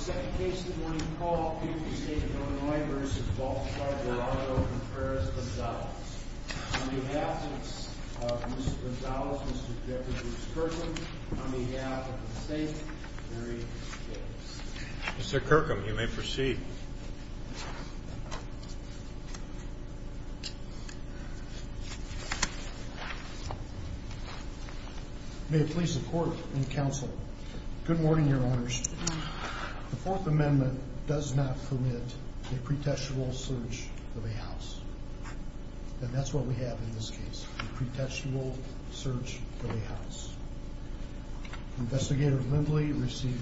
On behalf of Mr. Gonzalez, Mr. Jeffries, and Ms. Kirkham, on behalf of the state, I am very grateful. Mr. Kirkham, you may proceed. May it please the court and counsel, good morning, your honors. The Fourth Amendment does not permit a pretextual search of a house. And that's what we have in this case, a pretextual search of a house. Investigator Lindley received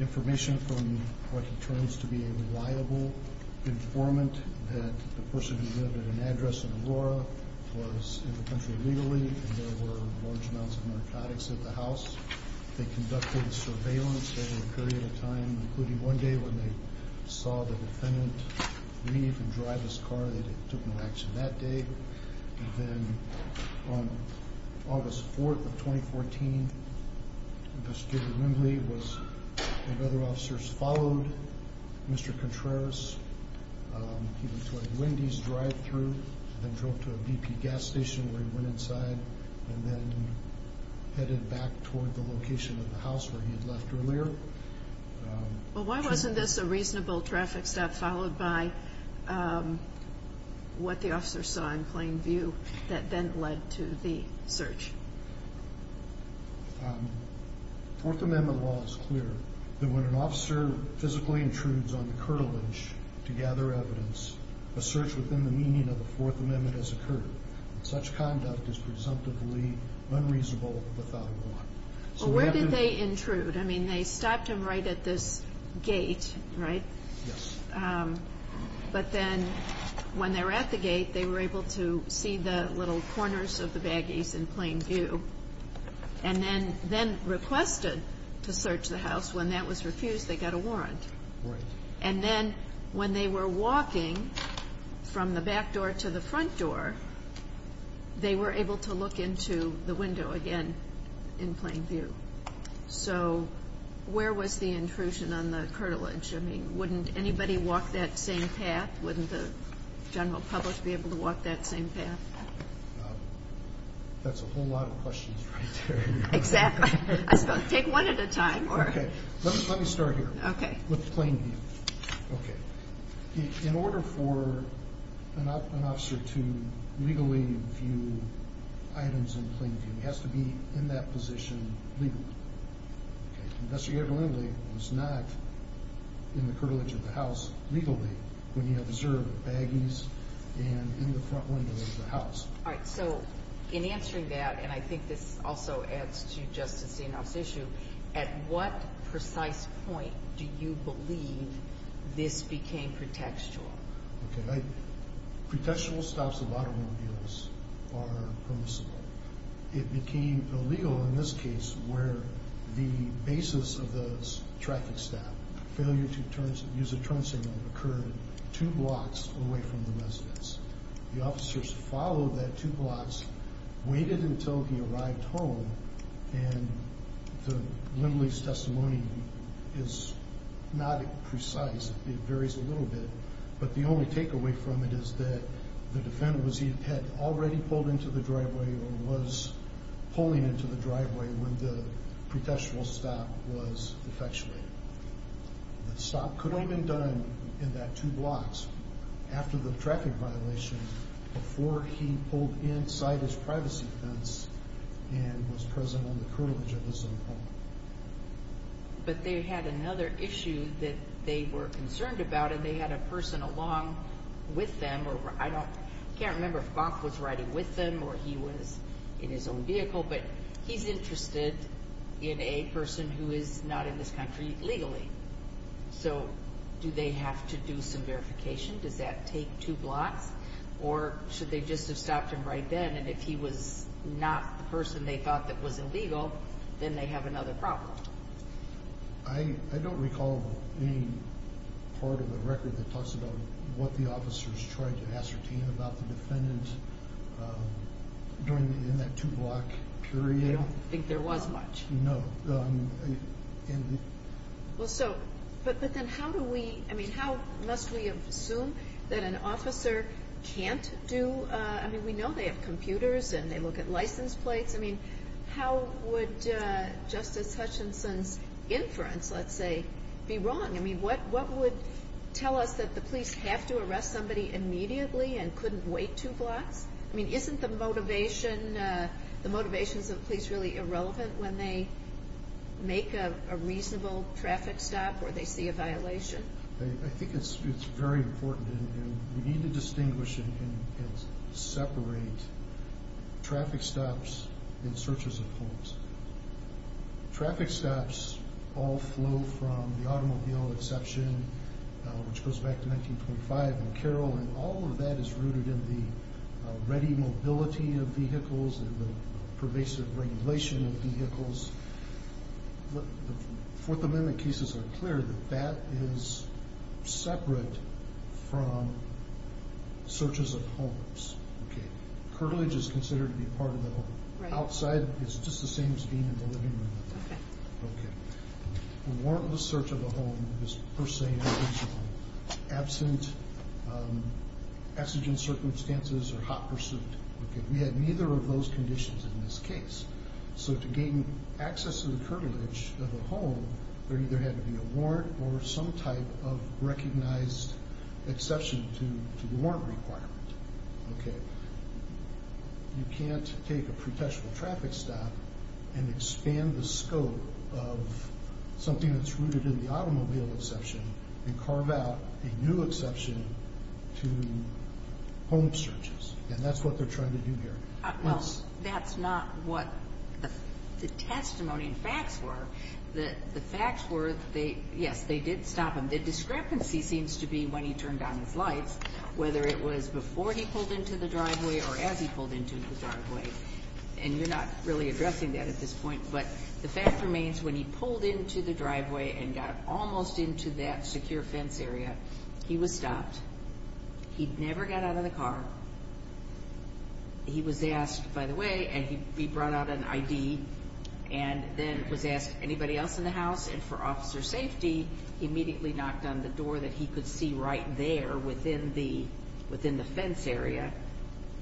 information from what he terms to be a reliable informant that the person who lived at an address in Aurora was in the country legally and there were large amounts of narcotics at the house. They conducted surveillance over a period of time, including one day when they saw the defendant leave and drive his car, they took no action that day. And then on August 4th of 2014, Investigator Lindley and other officers followed Mr. Contreras. He went to a Wendy's drive-thru, then drove to a BP gas station where he went inside, and then headed back toward the location of the house where he had left earlier. Well, why wasn't this a reasonable traffic stop followed by what the officer saw in plain view that then led to the search? Fourth Amendment law is clear that when an officer physically intrudes on the curtilage to gather evidence, a search within the meaning of the Fourth Amendment has occurred. Such conduct is presumptively unreasonable without warrant. Well, where did they intrude? I mean, they stopped him right at this gate, right? Yes. But then when they were at the gate, they were able to see the little corners of the baggies in plain view and then requested to search the house. When that was refused, they got a warrant. Right. And then when they were walking from the back door to the front door, they were able to look into the window again in plain view. So where was the intrusion on the curtilage? I mean, wouldn't anybody walk that same path? Wouldn't the general public be able to walk that same path? That's a whole lot of questions right there. Exactly. Take one at a time. Let me start here with plain view. In order for an officer to legally view items in plain view, he has to be in that position legally. Investigator Lindley was not in the curtilage of the house legally when he observed the baggies and in the front window of the house. All right. So in answering that, and I think this also adds to Justice Zinoff's issue, at what precise point do you believe this became pretextual? Okay. Pretextual stops of automobiles are permissible. It became illegal in this case where the basis of the traffic stop, failure to use a turn signal, occurred two blocks away from the residence. The officers followed that two blocks, waited until he arrived home, and Lindley's testimony is not precise. It varies a little bit, but the only takeaway from it is that the defendant had already pulled into the driveway or was pulling into the driveway when the pretextual stop was effectuated. The stop could have been done in that two blocks after the traffic violation before he pulled inside his privacy fence and was present on the curtilage of his own home. But they had another issue that they were concerned about, and they had a person along with them, or I can't remember if Bonk was riding with them or he was in his own vehicle, but he's interested in a person who is not in this country legally. So do they have to do some verification? Does that take two blocks? Or should they just have stopped him right then, and if he was not the person they thought that was illegal, then they have another problem? I don't recall any part of the record that talks about what the officers tried to ascertain about the defendant during that two block period. I don't think there was much. No. Well, so, but then how do we, I mean, how must we assume that an officer can't do, I mean, we know they have computers and they look at license plates. I mean, how would Justice Hutchinson's inference, let's say, be wrong? I mean, what would tell us that the police have to arrest somebody immediately and couldn't wait two blocks? I mean, isn't the motivation, the motivations of the police really irrelevant when they make a reasonable traffic stop or they see a violation? I think it's very important, and we need to distinguish and separate traffic stops and searches of homes. Traffic stops all flow from the automobile exception, which goes back to 1925 in Carroll, and all of that is rooted in the ready mobility of vehicles and the pervasive regulation of vehicles. The Fourth Amendment cases are clear that that is separate from searches of homes. Okay. Curtilage is considered to be part of the home. Right. Outside is just the same as being in the living room. Okay. Okay. A warrantless search of a home is per se intentional, absent exigent circumstances or hot pursuit. Okay. We had neither of those conditions in this case. So to gain access to the curtilage of a home, there either had to be a warrant or some type of recognized exception to the warrant requirement. Okay. You can't take a pretentious traffic stop and expand the scope of something that's rooted in the automobile exception and carve out a new exception to home searches, and that's what they're trying to do here. Well, that's not what the testimony and facts were. The facts were, yes, they did stop him. The discrepancy seems to be when he turned on his lights, whether it was before he pulled into the driveway or as he pulled into the driveway, and you're not really addressing that at this point, but the fact remains when he pulled into the driveway and got almost into that secure fence area, he was stopped. He never got out of the car. He was asked, by the way, and he brought out an ID and then was asked, anybody else in the house? And for officer safety, he immediately knocked on the door that he could see right there within the fence area,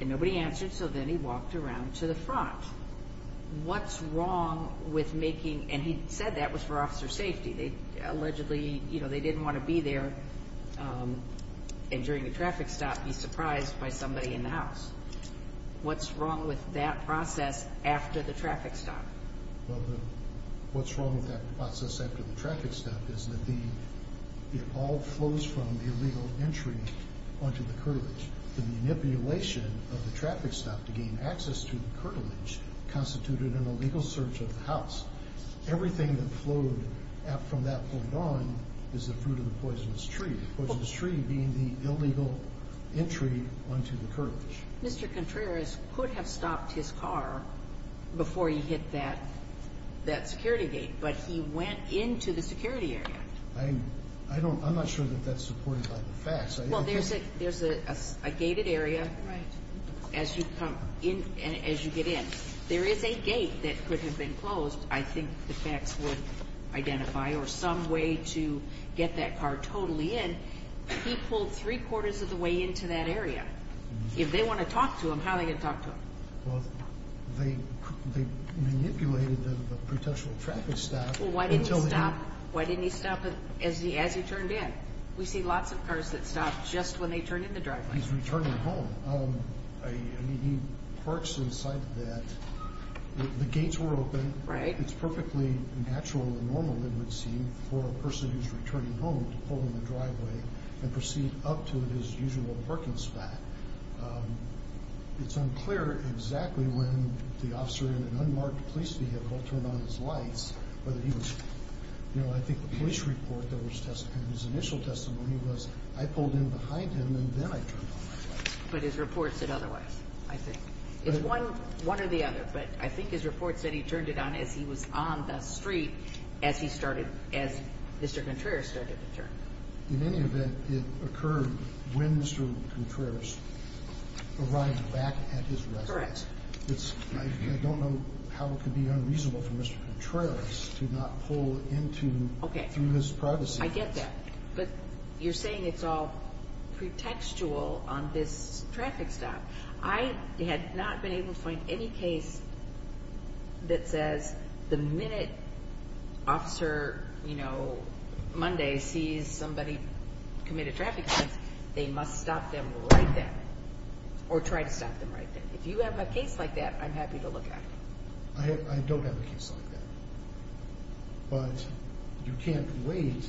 and nobody answered, so then he walked around to the front. What's wrong with making, and he said that was for officer safety. Allegedly, they didn't want to be there and during a traffic stop be surprised by somebody in the house. What's wrong with that process after the traffic stop? Well, what's wrong with that process after the traffic stop is that it all flows from the illegal entry onto the curtilage. The manipulation of the traffic stop to gain access to the curtilage constituted an illegal search of the house. Everything that flowed from that point on is the fruit of the poisonous tree, the poisonous tree being the illegal entry onto the curtilage. Mr. Contreras could have stopped his car before he hit that security gate, but he went into the security area. I'm not sure that that's supported by the facts. Well, there's a gated area as you get in. There is a gate that could have been closed. I think the facts would identify or some way to get that car totally in. He pulled three-quarters of the way into that area. If they want to talk to him, how are they going to talk to him? Well, they manipulated the potential traffic stop. Well, why didn't he stop as he turned in? We see lots of cars that stop just when they turn in the driveway. He's returning home. He parks inside that. The gates were open. It's perfectly natural and normal, it would seem, for a person who's returning home to pull in the driveway and proceed up to his usual parking spot. It's unclear exactly when the officer in an unmarked police vehicle turned on his lights. I think the police report in his initial testimony was, I pulled in behind him and then I turned on my lights. But his report said otherwise, I think. It's one or the other, but I think his report said he turned it on as he was on the street as Mr. Contreras started to turn. In any event, it occurred when Mr. Contreras arrived back at his residence. Correct. I don't know how it could be unreasonable for Mr. Contreras to not pull into through his privacy. I get that. But you're saying it's all pretextual on this traffic stop. I had not been able to find any case that says the minute Officer Monday sees somebody commit a traffic offense, they must stop them right then or try to stop them right then. If you have a case like that, I'm happy to look at it. I don't have a case like that. But you can't wait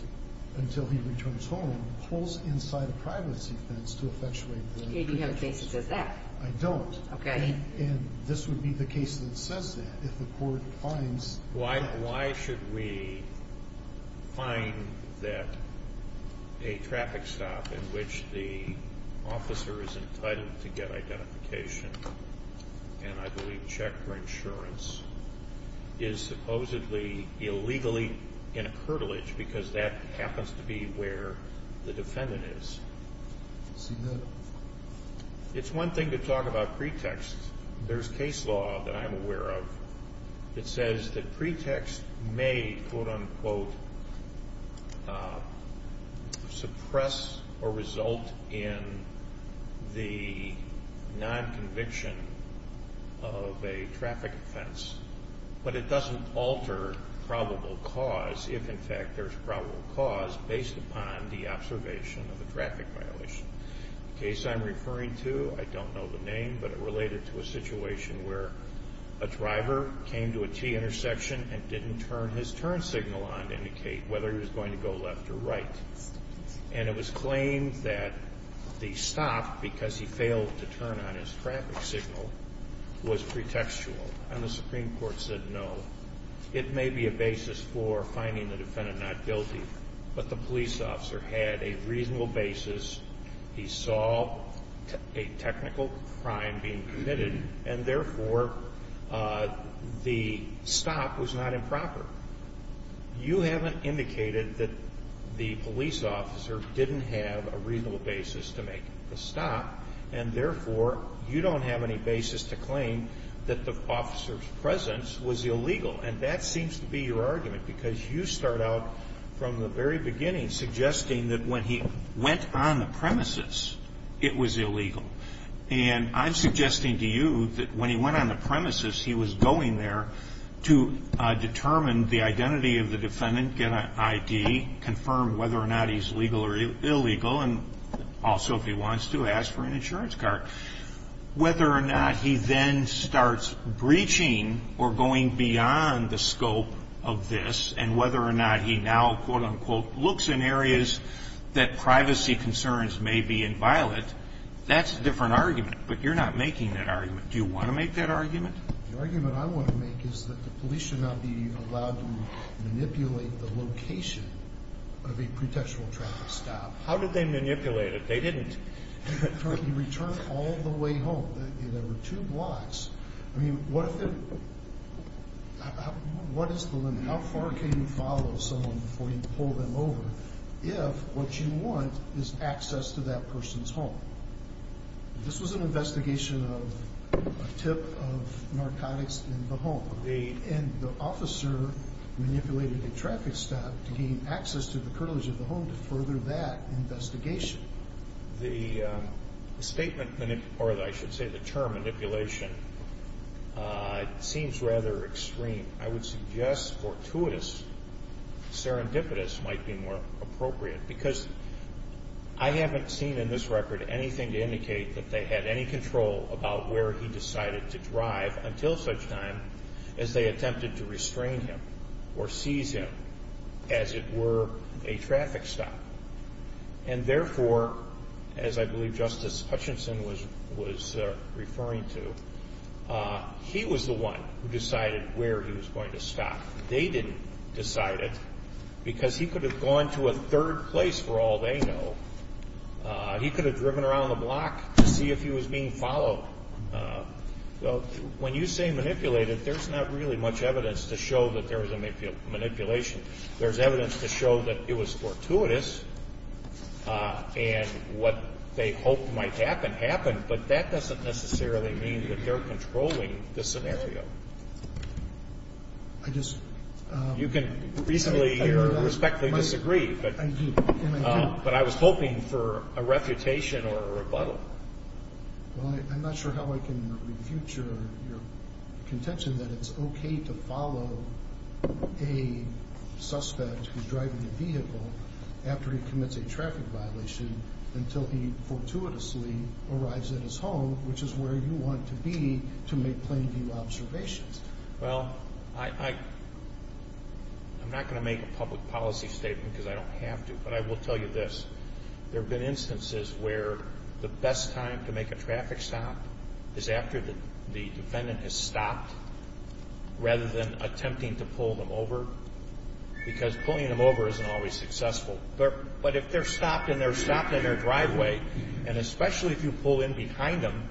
until he returns home and pulls inside a privacy fence to effectuate the pretext. You have a case that says that. I don't. Okay. And this would be the case that says that if the court finds... Why should we find that a traffic stop in which the officer is entitled to get identification and, I believe, check for insurance, is supposedly illegally in a curtilage because that happens to be where the defendant is? It's one thing to talk about pretexts. There's case law that I'm aware of that says that pretext may, quote-unquote, suppress or result in the nonconviction of a traffic offense, but it doesn't alter probable cause if, in fact, there's probable cause based upon the observation of the traffic violation. The case I'm referring to, I don't know the name, but it related to a situation where a driver came to a T intersection and didn't turn his turn signal on to indicate whether he was going to go left or right. And it was claimed that the stop, because he failed to turn on his traffic signal, was pretextual. And the Supreme Court said no. It may be a basis for finding the defendant not guilty, but the police officer had a reasonable basis. He saw a technical crime being committed, and, therefore, the stop was not improper. You haven't indicated that the police officer didn't have a reasonable basis to make the stop, and, therefore, you don't have any basis to claim that the officer's presence was illegal. And that seems to be your argument, because you start out from the very beginning suggesting that when he went on the premises, it was illegal. And I'm suggesting to you that when he went on the premises, he was going there to determine the identity of the defendant, get an ID, confirm whether or not he's legal or illegal, and also, if he wants to, ask for an insurance card. Whether or not he then starts breaching or going beyond the scope of this, and whether or not he now, quote, unquote, looks in areas that privacy concerns may be inviolate, that's a different argument. But you're not making that argument. Do you want to make that argument? The argument I want to make is that the police should not be allowed to manipulate the location of a pretextual traffic stop. How did they manipulate it? They didn't. He returned all the way home. There were two blocks. I mean, what is the limit? How far can you follow someone before you pull them over if what you want is access to that person's home? This was an investigation of a tip of narcotics in the home. And the officer manipulated the traffic stop to gain access to the curtilage of the home to further that investigation. The statement, or I should say the term manipulation, seems rather extreme. I would suggest fortuitous, serendipitous might be more appropriate, because I haven't seen in this record anything to indicate that they had any control about where he decided to drive until such time as they attempted to restrain him or seize him as it were a traffic stop. And therefore, as I believe Justice Hutchinson was referring to, he was the one who decided where he was going to stop. They didn't decide it because he could have gone to a third place for all they know. He could have driven around the block to see if he was being followed. So when you say manipulated, there's not really much evidence to show that there was a manipulation. There's evidence to show that it was fortuitous and what they hoped might happen happened, but that doesn't necessarily mean that they're controlling the scenario. You can reasonably or respectfully disagree, but I was hoping for a refutation or a rebuttal. Well, I'm not sure how I can refute your contention that it's okay to follow a suspect who's driving a vehicle after he commits a traffic violation until he fortuitously arrives at his home, which is where you want to be to make plain view observations. Well, I'm not going to make a public policy statement because I don't have to, but I will tell you this. There have been instances where the best time to make a traffic stop is after the defendant has stopped rather than attempting to pull them over because pulling them over isn't always successful. But if they're stopped and they're stopped in their driveway, and especially if you pull in behind them,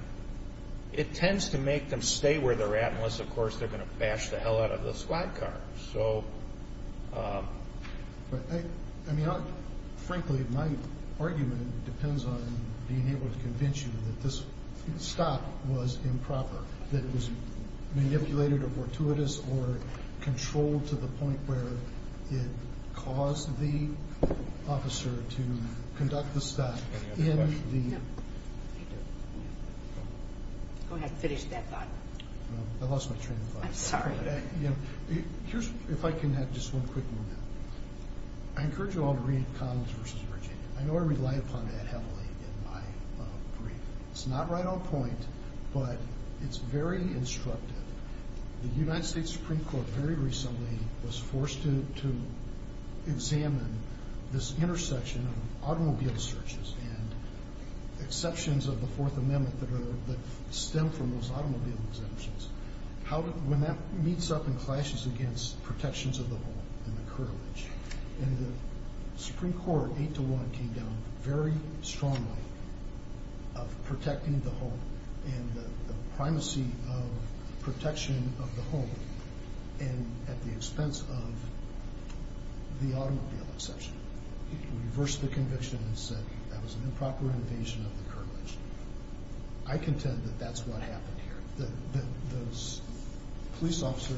it tends to make them stay where they're at unless, of course, they're going to bash the hell out of the squad car. I mean, frankly, my argument depends on being able to convince you that this stop was improper, that it was manipulated or fortuitous or controlled to the point where it caused the officer to conduct the stop. Go ahead and finish that thought. I lost my train of thought. I'm sorry. Here's if I can have just one quick moment. I encourage you all to read Collins v. Virginia. I know I rely upon that heavily in my brief. It's not right on point, but it's very instructive. The United States Supreme Court very recently was forced to examine this intersection of automobile searches and exceptions of the Fourth Amendment that stem from those automobile exemptions. When that meets up and clashes against protections of the home and the curtilage, the Supreme Court, 8-1, came down very strongly of protecting the home and the primacy of protection of the home at the expense of the automobile exception. It reversed the conviction and said that was an improper invasion of the curtilage. I contend that that's what happened here. The police officer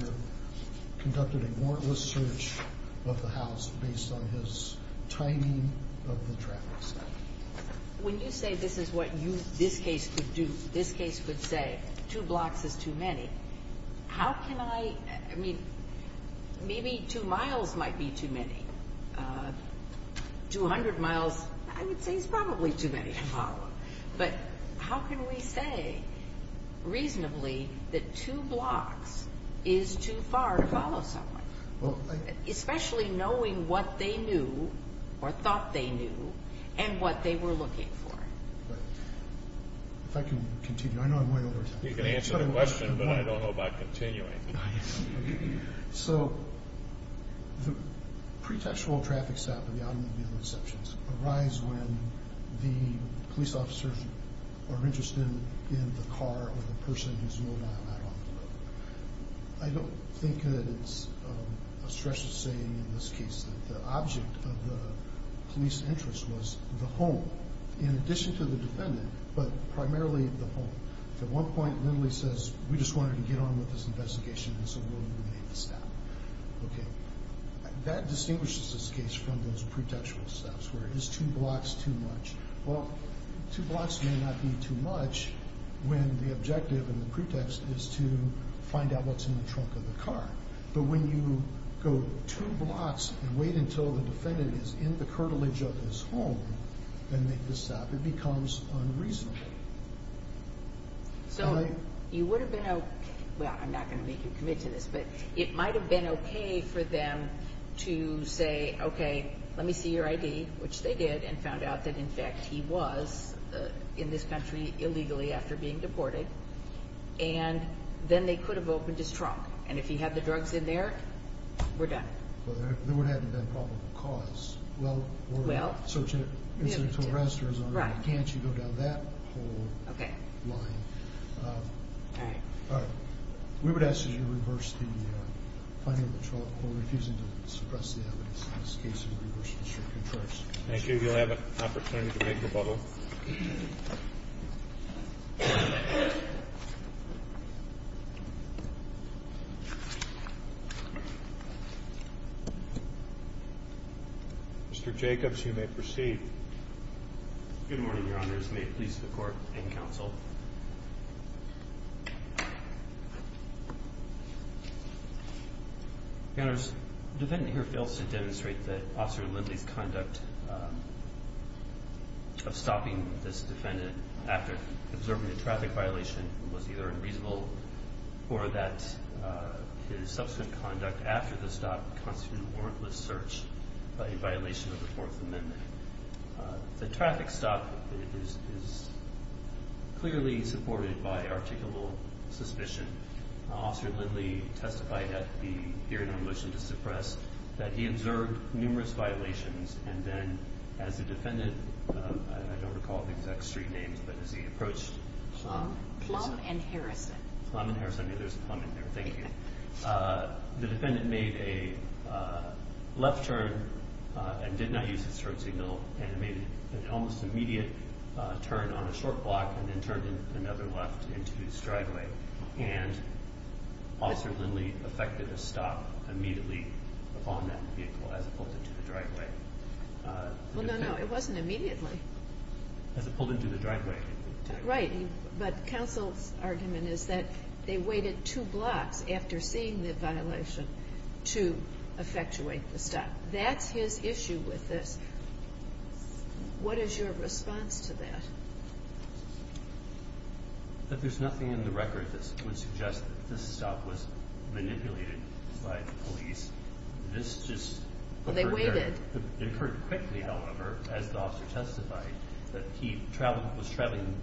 conducted a warrantless search of the house based on his timing of the traffic stop. When you say this is what this case could do, this case could say two blocks is too many, how can I, I mean, maybe two miles might be too many. Two hundred miles, I would say is probably too many to follow. But how can we say reasonably that two blocks is too far to follow someone, especially knowing what they knew or thought they knew and what they were looking for? If I can continue. I know I'm way over time. You can answer the question, but I don't know about continuing. So the pretextual traffic stop at the automobile exceptions arise when the police officers are interested in the car or the person who's moving out on the road. I don't think that it's a stressful saying in this case that the object of the police interest was the home, in addition to the defendant, but primarily the home. At one point, Lindley says, we just wanted to get on with this investigation, and so we made the stop. Okay. That distinguishes this case from those pretextual stops where it is two blocks too much. Well, two blocks may not be too much when the objective and the pretext is to find out what's in the trunk of the car. But when you go two blocks and wait until the defendant is in the curtilage of his home and make the stop, it becomes unreasonable. So you would have been okay – well, I'm not going to make you commit to this, but it might have been okay for them to say, okay, let me see your ID, which they did, and found out that, in fact, he was in this country illegally after being deported, and then they could have opened his trunk. And if he had the drugs in there, we're done. Well, there would have been probable cause. Well, we're searching it. Can't you go down that whole line? Okay. All right. All right. We would ask that you reverse the finding of the trunk for refusing to suppress the evidence in this case and reverse the circuit of choice. Thank you. You'll have an opportunity to make your bubble. Mr. Jacobs, you may proceed. Good morning, Your Honors. May it please the Court and Counsel. Your Honors, the defendant here fails to demonstrate that Officer Lindley's conduct of stopping this defendant after observing a traffic violation was either unreasonable or that his subsequent conduct after the stop constituted warrantless search in violation of the Fourth Amendment. The traffic stop is clearly supported by articulable suspicion. Officer Lindley testified at the hearing on a motion to suppress that he observed numerous violations, and then as the defendant, I don't recall the exact street names, but as he approached Plum, Plum and Harrison. Plum and Harrison. There's a Plum in there. Thank you. The defendant made a left turn and did not use his turn signal and made an almost immediate turn on a short block and then turned another left into his driveway, and Officer Lindley effected a stop immediately upon that vehicle as it pulled into the driveway. Well, no, no. It wasn't immediately. As it pulled into the driveway. Right. But counsel's argument is that they waited two blocks after seeing the violation to effectuate the stop. That's his issue with this. What is your response to that? That there's nothing in the record that would suggest that this stop was manipulated by the police. This just occurred there. They waited. He traveled, was traveling.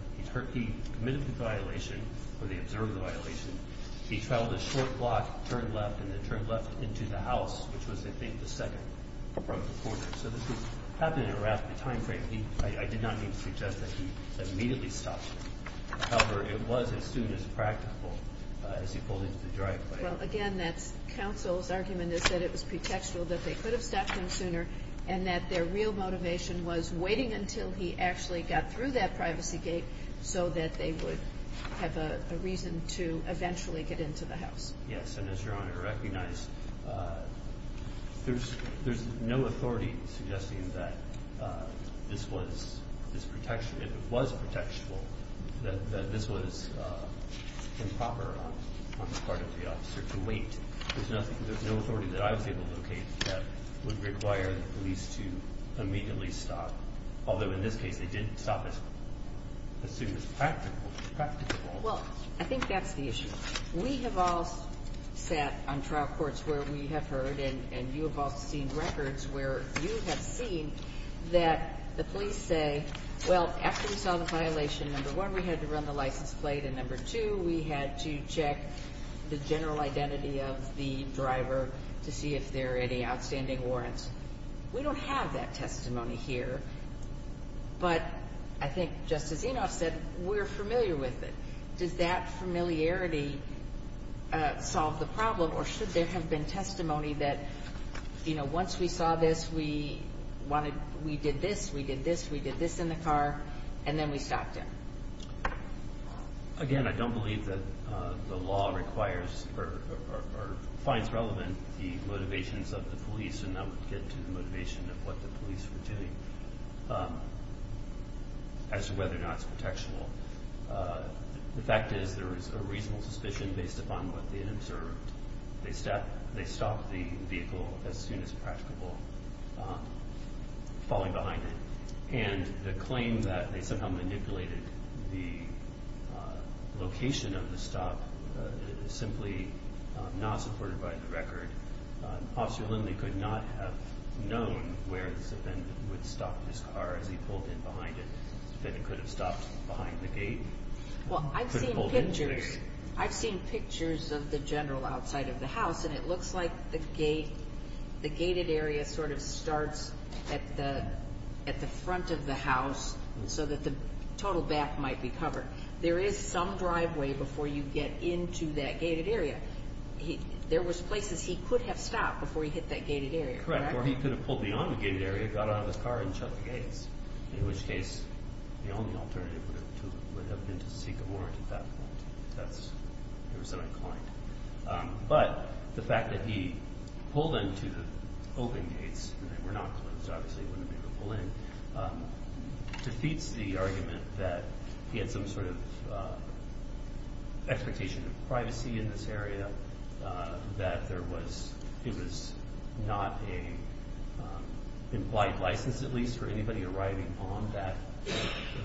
He committed the violation or they observed the violation. He traveled a short block, turned left, and then turned left into the house, which was, I think, the second from the corner. So this was happening around the time frame. I did not mean to suggest that he immediately stopped. However, it was as soon as practical as he pulled into the driveway. Well, again, that's counsel's argument is that it was pretextual that they could have stopped him sooner and that their real motivation was waiting until he actually got through that privacy gate so that they would have a reason to eventually get into the house. Yes, and as Your Honor recognized, there's no authority suggesting that this was this protection. It was pretextual that this was improper on the part of the officer to wait. There's no authority that I was able to locate that would require the police to immediately stop, although in this case they didn't stop as soon as practical. Well, I think that's the issue. We have all sat on trial courts where we have heard, and you have all seen records where you have seen, that the police say, well, after we saw the violation, number one, we had to run the license plate, and number two, we had to check the general identity of the driver to see if there are any outstanding warrants. We don't have that testimony here, but I think, just as Enoff said, we're familiar with it. Does that familiarity solve the problem, or should there have been testimony that, you know, once we saw this, we did this, we did this, we did this in the car, and then we stopped him? Again, I don't believe that the law requires or finds relevant the motivations of the police, and that would get to the motivation of what the police were doing as to whether or not it's pretextual. The fact is there is a reasonable suspicion based upon what they had observed. They stopped the vehicle as soon as practicable, falling behind it, and the claim that they somehow manipulated the location of the stop simply not supported by the record. Officer Lindley could not have known where this event would stop this car as he pulled in behind it, that it could have stopped behind the gate. Well, I've seen pictures of the general outside of the house, and it looks like the gated area sort of starts at the front of the house so that the total back might be covered. There is some driveway before you get into that gated area. There was places he could have stopped before he hit that gated area, correct? Correct, or he could have pulled beyond the gated area, got out of the car, and shut the gates, in which case the only alternative would have been to seek a warrant at that point. That's where he was so inclined. But the fact that he pulled into the open gates, and they were not closed, obviously he wouldn't have been able to pull in, defeats the argument that he had some sort of expectation of privacy in this area, that it was not an implied license at least for anybody arriving on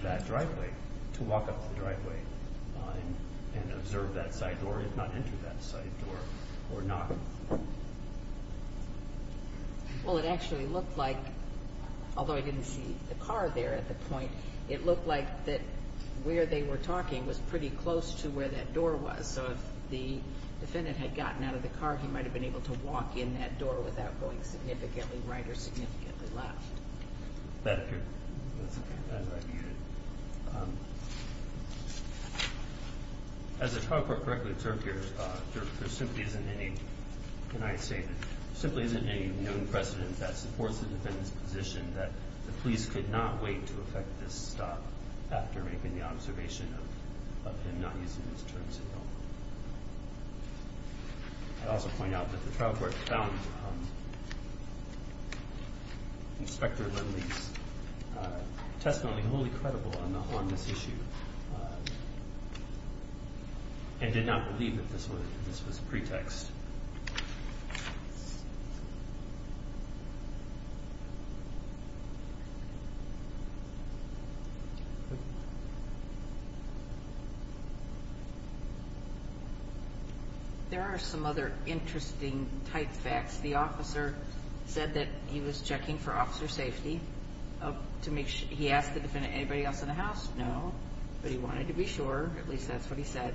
that driveway to walk up to the driveway and observe that side door, if not enter that side door, or not. Well, it actually looked like, although I didn't see the car there at the point, it looked like that where they were talking was pretty close to where that door was, so if the defendant had gotten out of the car, he might have been able to walk in that door without going significantly right or significantly left. That appeared as I viewed it. As it correctly observed here, there simply isn't any, can I say, there simply isn't any known precedent that supports the defendant's position that the police could not wait to effect this stop after making the observation of him not using his turn signal. I'd also point out that the trial court found Inspector Lindley's testimony wholly credible on this issue and did not believe that this was a pretext. There are some other interesting type facts. The officer said that he was checking for officer safety. He asked the defendant, anybody else in the house? No. But he wanted to be sure, at least that's what he said.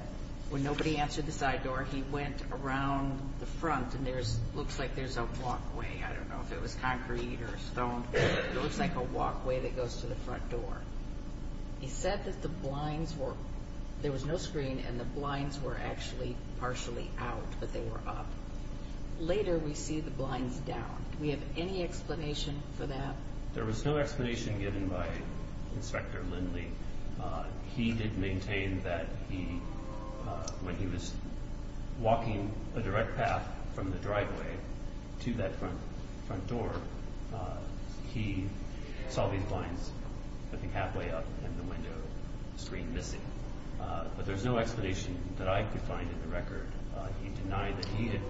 When nobody answered the side door, he went around the front and there looks like there's a walkway. I don't know if it was concrete or stone. It looks like a walkway that goes to the front door. He said that the blinds were, there was no screen and the blinds were actually partially out, but they were up. Later we see the blinds down. Do we have any explanation for that? There was no explanation given by Inspector Lindley. He did maintain that he, when he was walking a direct path from the driveway to that front door, he saw these blinds, I think, halfway up and the window screen missing. But there's no explanation that I could find in the record. He denied that he had.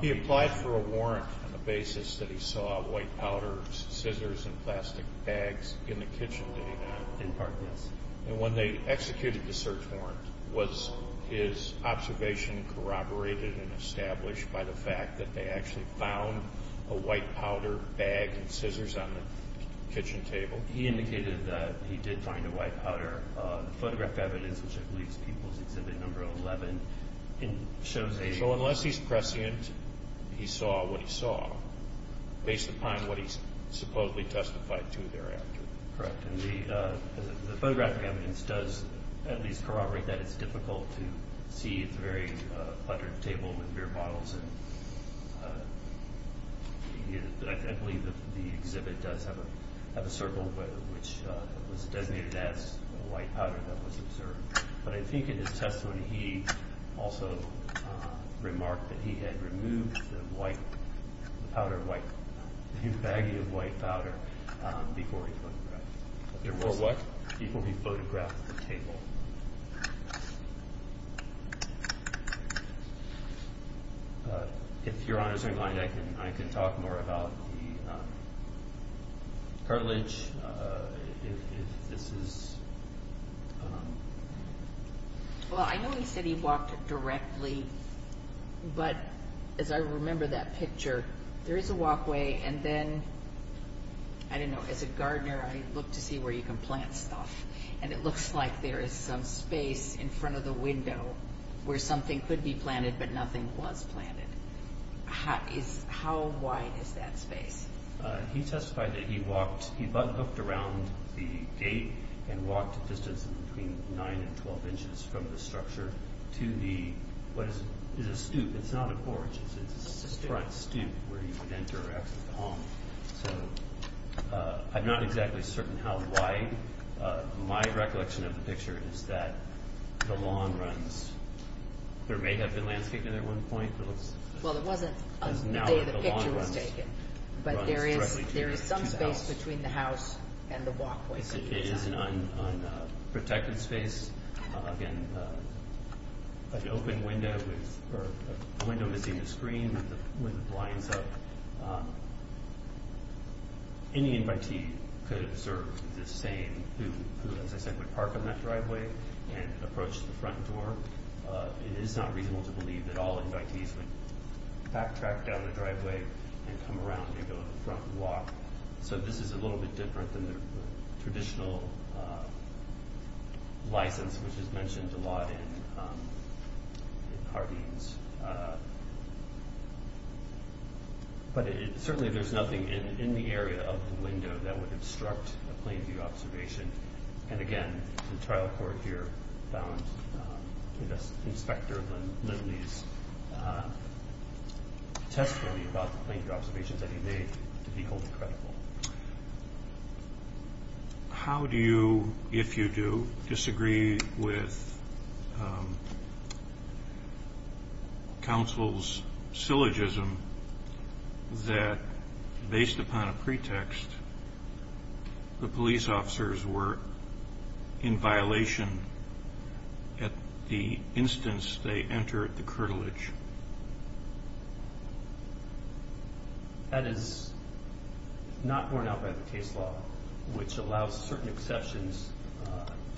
He applied for a warrant on the basis that he saw white powder, scissors and plastic bags in the kitchen that he had. In part, yes. And when they executed the search warrant, was his observation corroborated and established by the fact that they actually found a white powder bag and scissors on the kitchen table? He indicated that he did find a white powder. The photographic evidence, which I believe is People's Exhibit No. 11, shows a So unless he's prescient, he saw what he saw, based upon what he supposedly testified to thereafter. Correct. And the photographic evidence does at least corroborate that. It's difficult to see. It's a very cluttered table with beer bottles. I believe that the exhibit does have a circle which was designated as white powder that was observed. But I think in his testimony, he also remarked that he had removed the baggie of white powder before he photographed the table. If your honors are in line, I can talk more about the cartilage. Well, I know he said he walked directly. But as I remember that picture, there is a walkway. And then, I don't know, as a gardener, I look to see where you can plant stuff. And it looks like there is some space in front of the window where something could be planted, but nothing was planted. How wide is that space? He testified that he buck-hooked around the gate and walked a distance of between 9 and 12 inches from the structure to what is a stoop. It's not a porch. It's a front stoop where you would enter or exit the home. I'm not exactly certain how wide. My recollection of the picture is that the lawn runs. There may have been landscaping at one point. Well, it wasn't until the day the picture was taken. But there is some space between the house and the walkway. It is an unprotected space. Again, an open window with a window missing the screen with the blinds up. Any invitee could observe the same who, as I said, would park on that driveway and approach the front door. It is not reasonable to believe that all invitees would backtrack down the driveway and come around and go to the front and walk. So this is a little bit different than the traditional license, which is mentioned a lot in Hardeen's. But certainly there's nothing in the area of the window that would obstruct a plain view observation. And again, the trial court here found Inspector Lindley's testimony about the plain view observations that he made to be wholly credible. How do you, if you do, disagree with counsel's syllogism that, based upon a pretext, the police officers were in violation at the instance they entered the curtilage? That is not borne out by the case law, which allows certain exceptions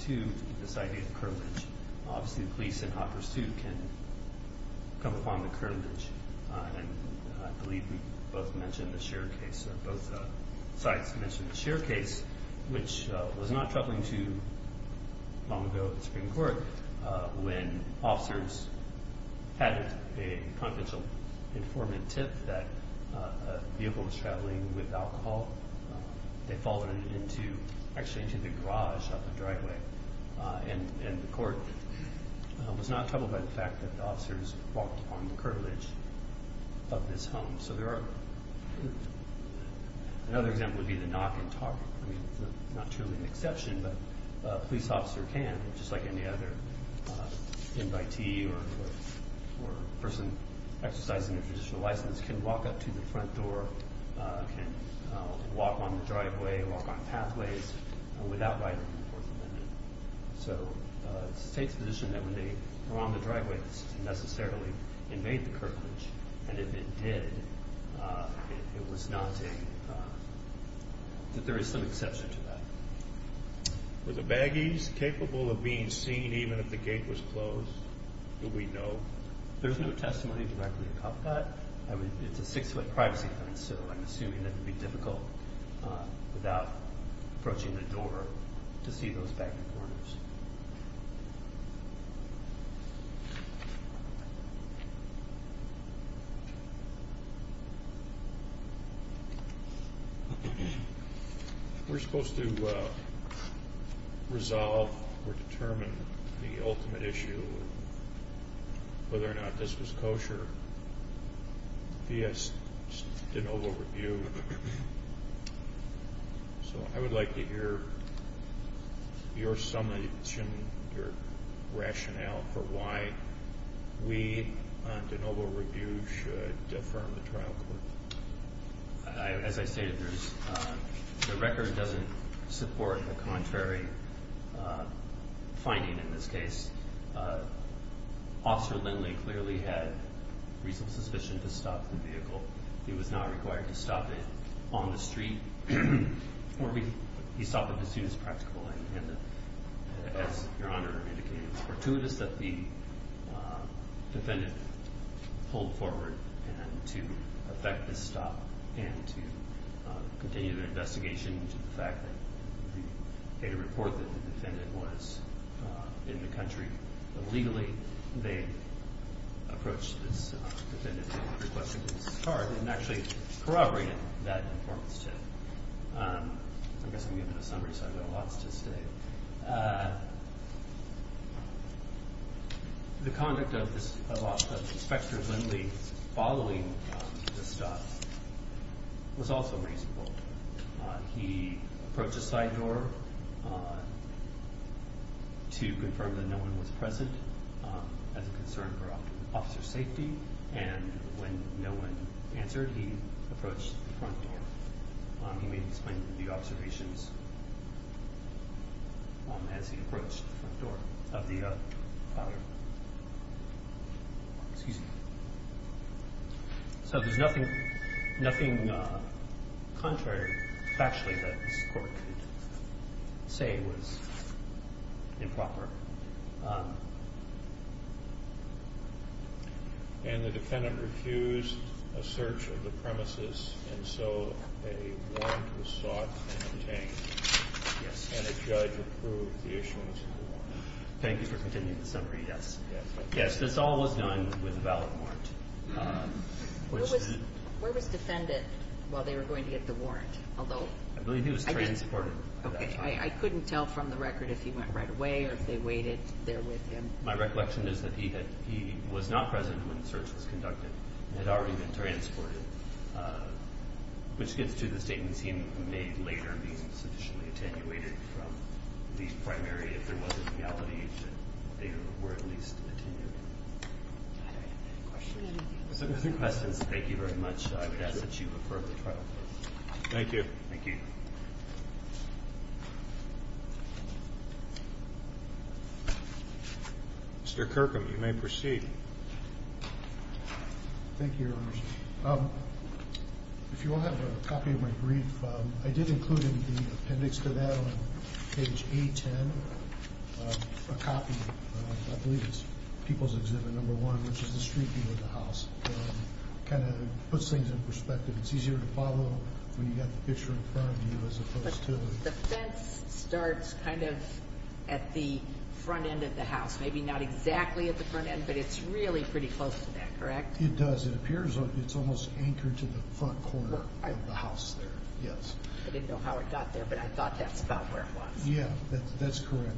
to this idea of curtilage. Obviously the police in hot pursuit can come upon the curtilage. I believe we both mentioned the Scheer case, or both sides mentioned the Scheer case, which was not troubling to long ago at the Supreme Court when officers had a confidential informant tip that a vehicle was traveling with alcohol. They followed it into, actually into the garage of the driveway. And the court was not troubled by the fact that the officers walked upon the curtilage of this home. So there are, another example would be the knock and talk. I mean, it's not truly an exception, but a police officer can, just like any other invitee or person exercising their traditional license, can walk up to the front door, can walk on the driveway, walk on pathways without writing the Fourth Amendment. So it's the State's position that when they were on the driveway, this didn't necessarily invade the curtilage. And if it did, it was not a, that there is some exception to that. Were the baggies capable of being seen even if the gate was closed? Do we know? There's no testimony directly to cover that. It's a six-foot privacy fence, so I'm assuming that it would be difficult without approaching the door to see those baggy corners. We're supposed to resolve or determine the ultimate issue, whether or not this was kosher via de novo review. So I would like to hear your summation, your rationale for why we on de novo review should defer the trial court. As I stated, the record doesn't support a contrary finding in this case. Officer Lindley clearly had reasonable suspicion to stop the vehicle. He was not required to stop it on the street, or he stopped it as soon as practical. And as Your Honor indicated, it's fortuitous that the defendant pulled forward to effect this stop and to continue the investigation into the fact that the data report that the defendant was in the country illegally. They approached this defendant and requested his card and actually corroborated that informant's tip. I guess I'm giving a summary, so I've got lots to say. The conduct of Inspector Lindley following the stop was also reasonable. He approached the side door to confirm that no one was present as a concern for officer safety. And when no one answered, he approached the front door. He made the observations as he approached the front door of the father. Excuse me. So there's nothing contrary, factually, that this Court could say was improper. And the defendant refused a search of the premises, and so a warrant was sought and obtained. Yes. And a judge approved the issuance of the warrant. Thank you for continuing the summary, yes. Yes, this all was done with a valid warrant. Where was the defendant while they were going to get the warrant? I believe he was transported at that time. I couldn't tell from the record if he went right away or if they waited there with him. My recollection is that he was not present when the search was conducted. He had already been transported, which gets to the statements he made later being sufficiently attenuated from the primary, if there was a reality, that they were at least attenuated. Are there any questions? If there are no questions, thank you very much. I would ask that you refer the trial to us. Thank you. Thank you. Mr. Kirkham, you may proceed. Thank you, Your Honors. If you all have a copy of my brief, I did include in the appendix to that on page A-10 a copy. I believe it's People's Exhibit No. 1, which is the street view of the house. It kind of puts things in perspective. It's easier to follow when you've got the picture in front of you as opposed to— But the fence starts kind of at the front end of the house, maybe not exactly at the front end, but it's really pretty close to that, correct? It does. It appears it's almost anchored to the front corner of the house there, yes. I didn't know how it got there, but I thought that's about where it was. Yeah, that's correct.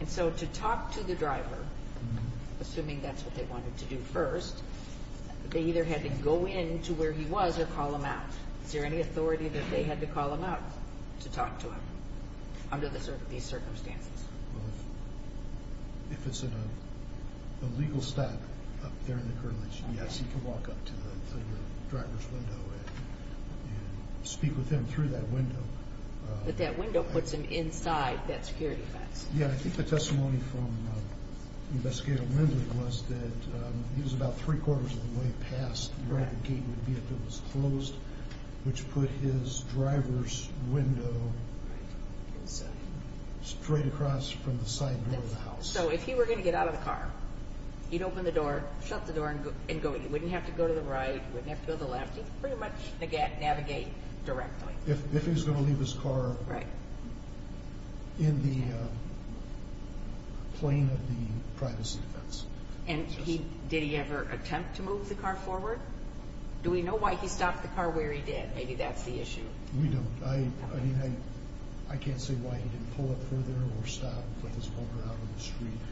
And so to talk to the driver, assuming that's what they wanted to do first, they either had to go in to where he was or call him out. Is there any authority that they had to call him out to talk to him under these circumstances? If it's a legal stop up there in the current location, yes, he can walk up to the driver's window and speak with him through that window. But that window puts him inside that security fence. Yeah, I think the testimony from Investigator Lindley was that he was about three-quarters of the way past where the gate would be if it was closed, which put his driver's window straight across from the side door of the house. So if he were going to get out of the car, he'd open the door, shut the door, and go. He wouldn't have to go to the right. He wouldn't have to go to the left. He could pretty much navigate directly. If he was going to leave his car in the plane of the privacy fence. And did he ever attempt to move the car forward? Do we know why he stopped the car where he did? Maybe that's the issue. We don't. I mean, I can't say why he didn't pull up further or stop and put his holder out on the street.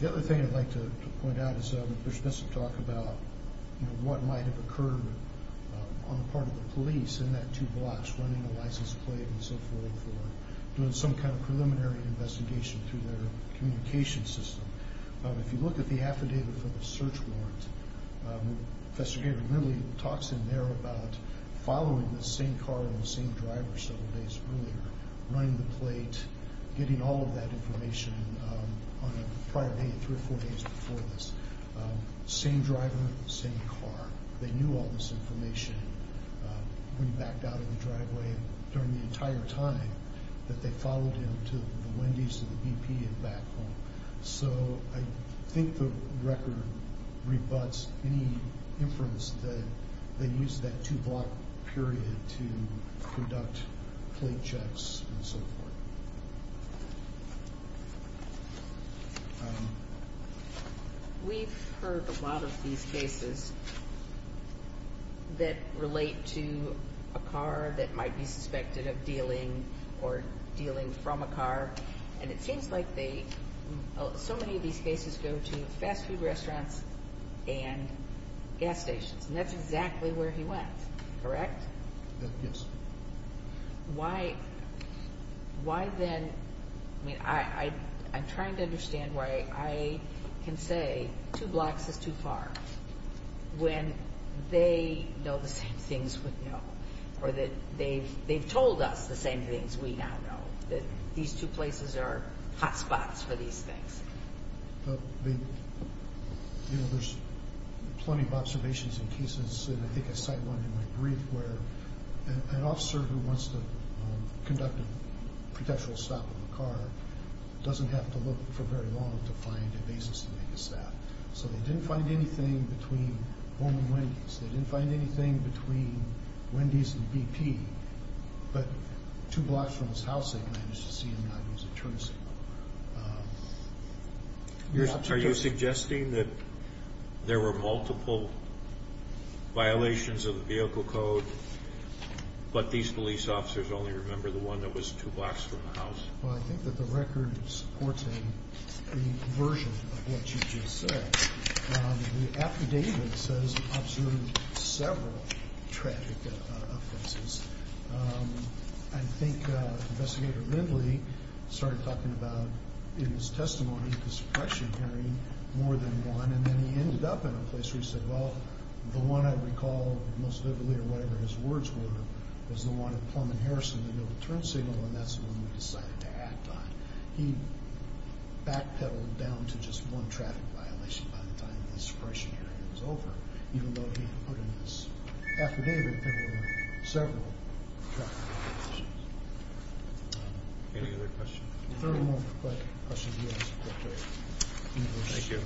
The other thing I'd like to point out is there's been some talk about, you know, what might have occurred on the part of the police in that two blocks running the license plate and so forth for doing some kind of preliminary investigation through their communication system. If you look at the affidavit for the search warrant, Professor David Lilly talks in there about following the same car and the same driver several days earlier, running the plate, getting all of that information on a prior day, three or four days before this. Same driver, same car. They knew all this information when he backed out of the driveway during the entire time that they followed him to the Wendy's and the BP and back home. So I think the record rebuts any inference that they used that two-block period to conduct plate checks and so forth. We've heard a lot of these cases that relate to a car that might be suspected of dealing or dealing from a car, and it seems like they, so many of these cases go to fast food restaurants and gas stations, and that's exactly where he went, correct? Yes. Why then, I mean, I'm trying to understand why I can say two blocks is too far when they know the same things we know or that they've told us the same things we now know, that these two places are hot spots for these things? Well, you know, there's plenty of observations in cases, and I think I cite one in my brief, where an officer who wants to conduct a potential stop on a car doesn't have to look for very long to find a basis to make a stop. So they didn't find anything between home and Wendy's. They didn't find anything between Wendy's and BP. But two blocks from his house they managed to see, and that was a turn signal. Are you suggesting that there were multiple violations of the vehicle code, but these police officers only remember the one that was two blocks from the house? Well, I think that the record supports a version of what you just said. The affidavit says he observed several traffic offenses. I think Investigator Lindley started talking about, in his testimony, the suppression hearing more than one, and then he ended up in a place where he said, well, the one I recall most vividly, or whatever his words were, was the one at Plum and Harrison, the middle turn signal, and that's the one we decided to act on. He backpedaled down to just one traffic violation by the time the suppression hearing was over, even though he put in this affidavit that there were several traffic violations. Any other questions? If there are no more questions, we'll ask Director English. Thank you.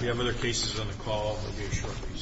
We have other cases on the call.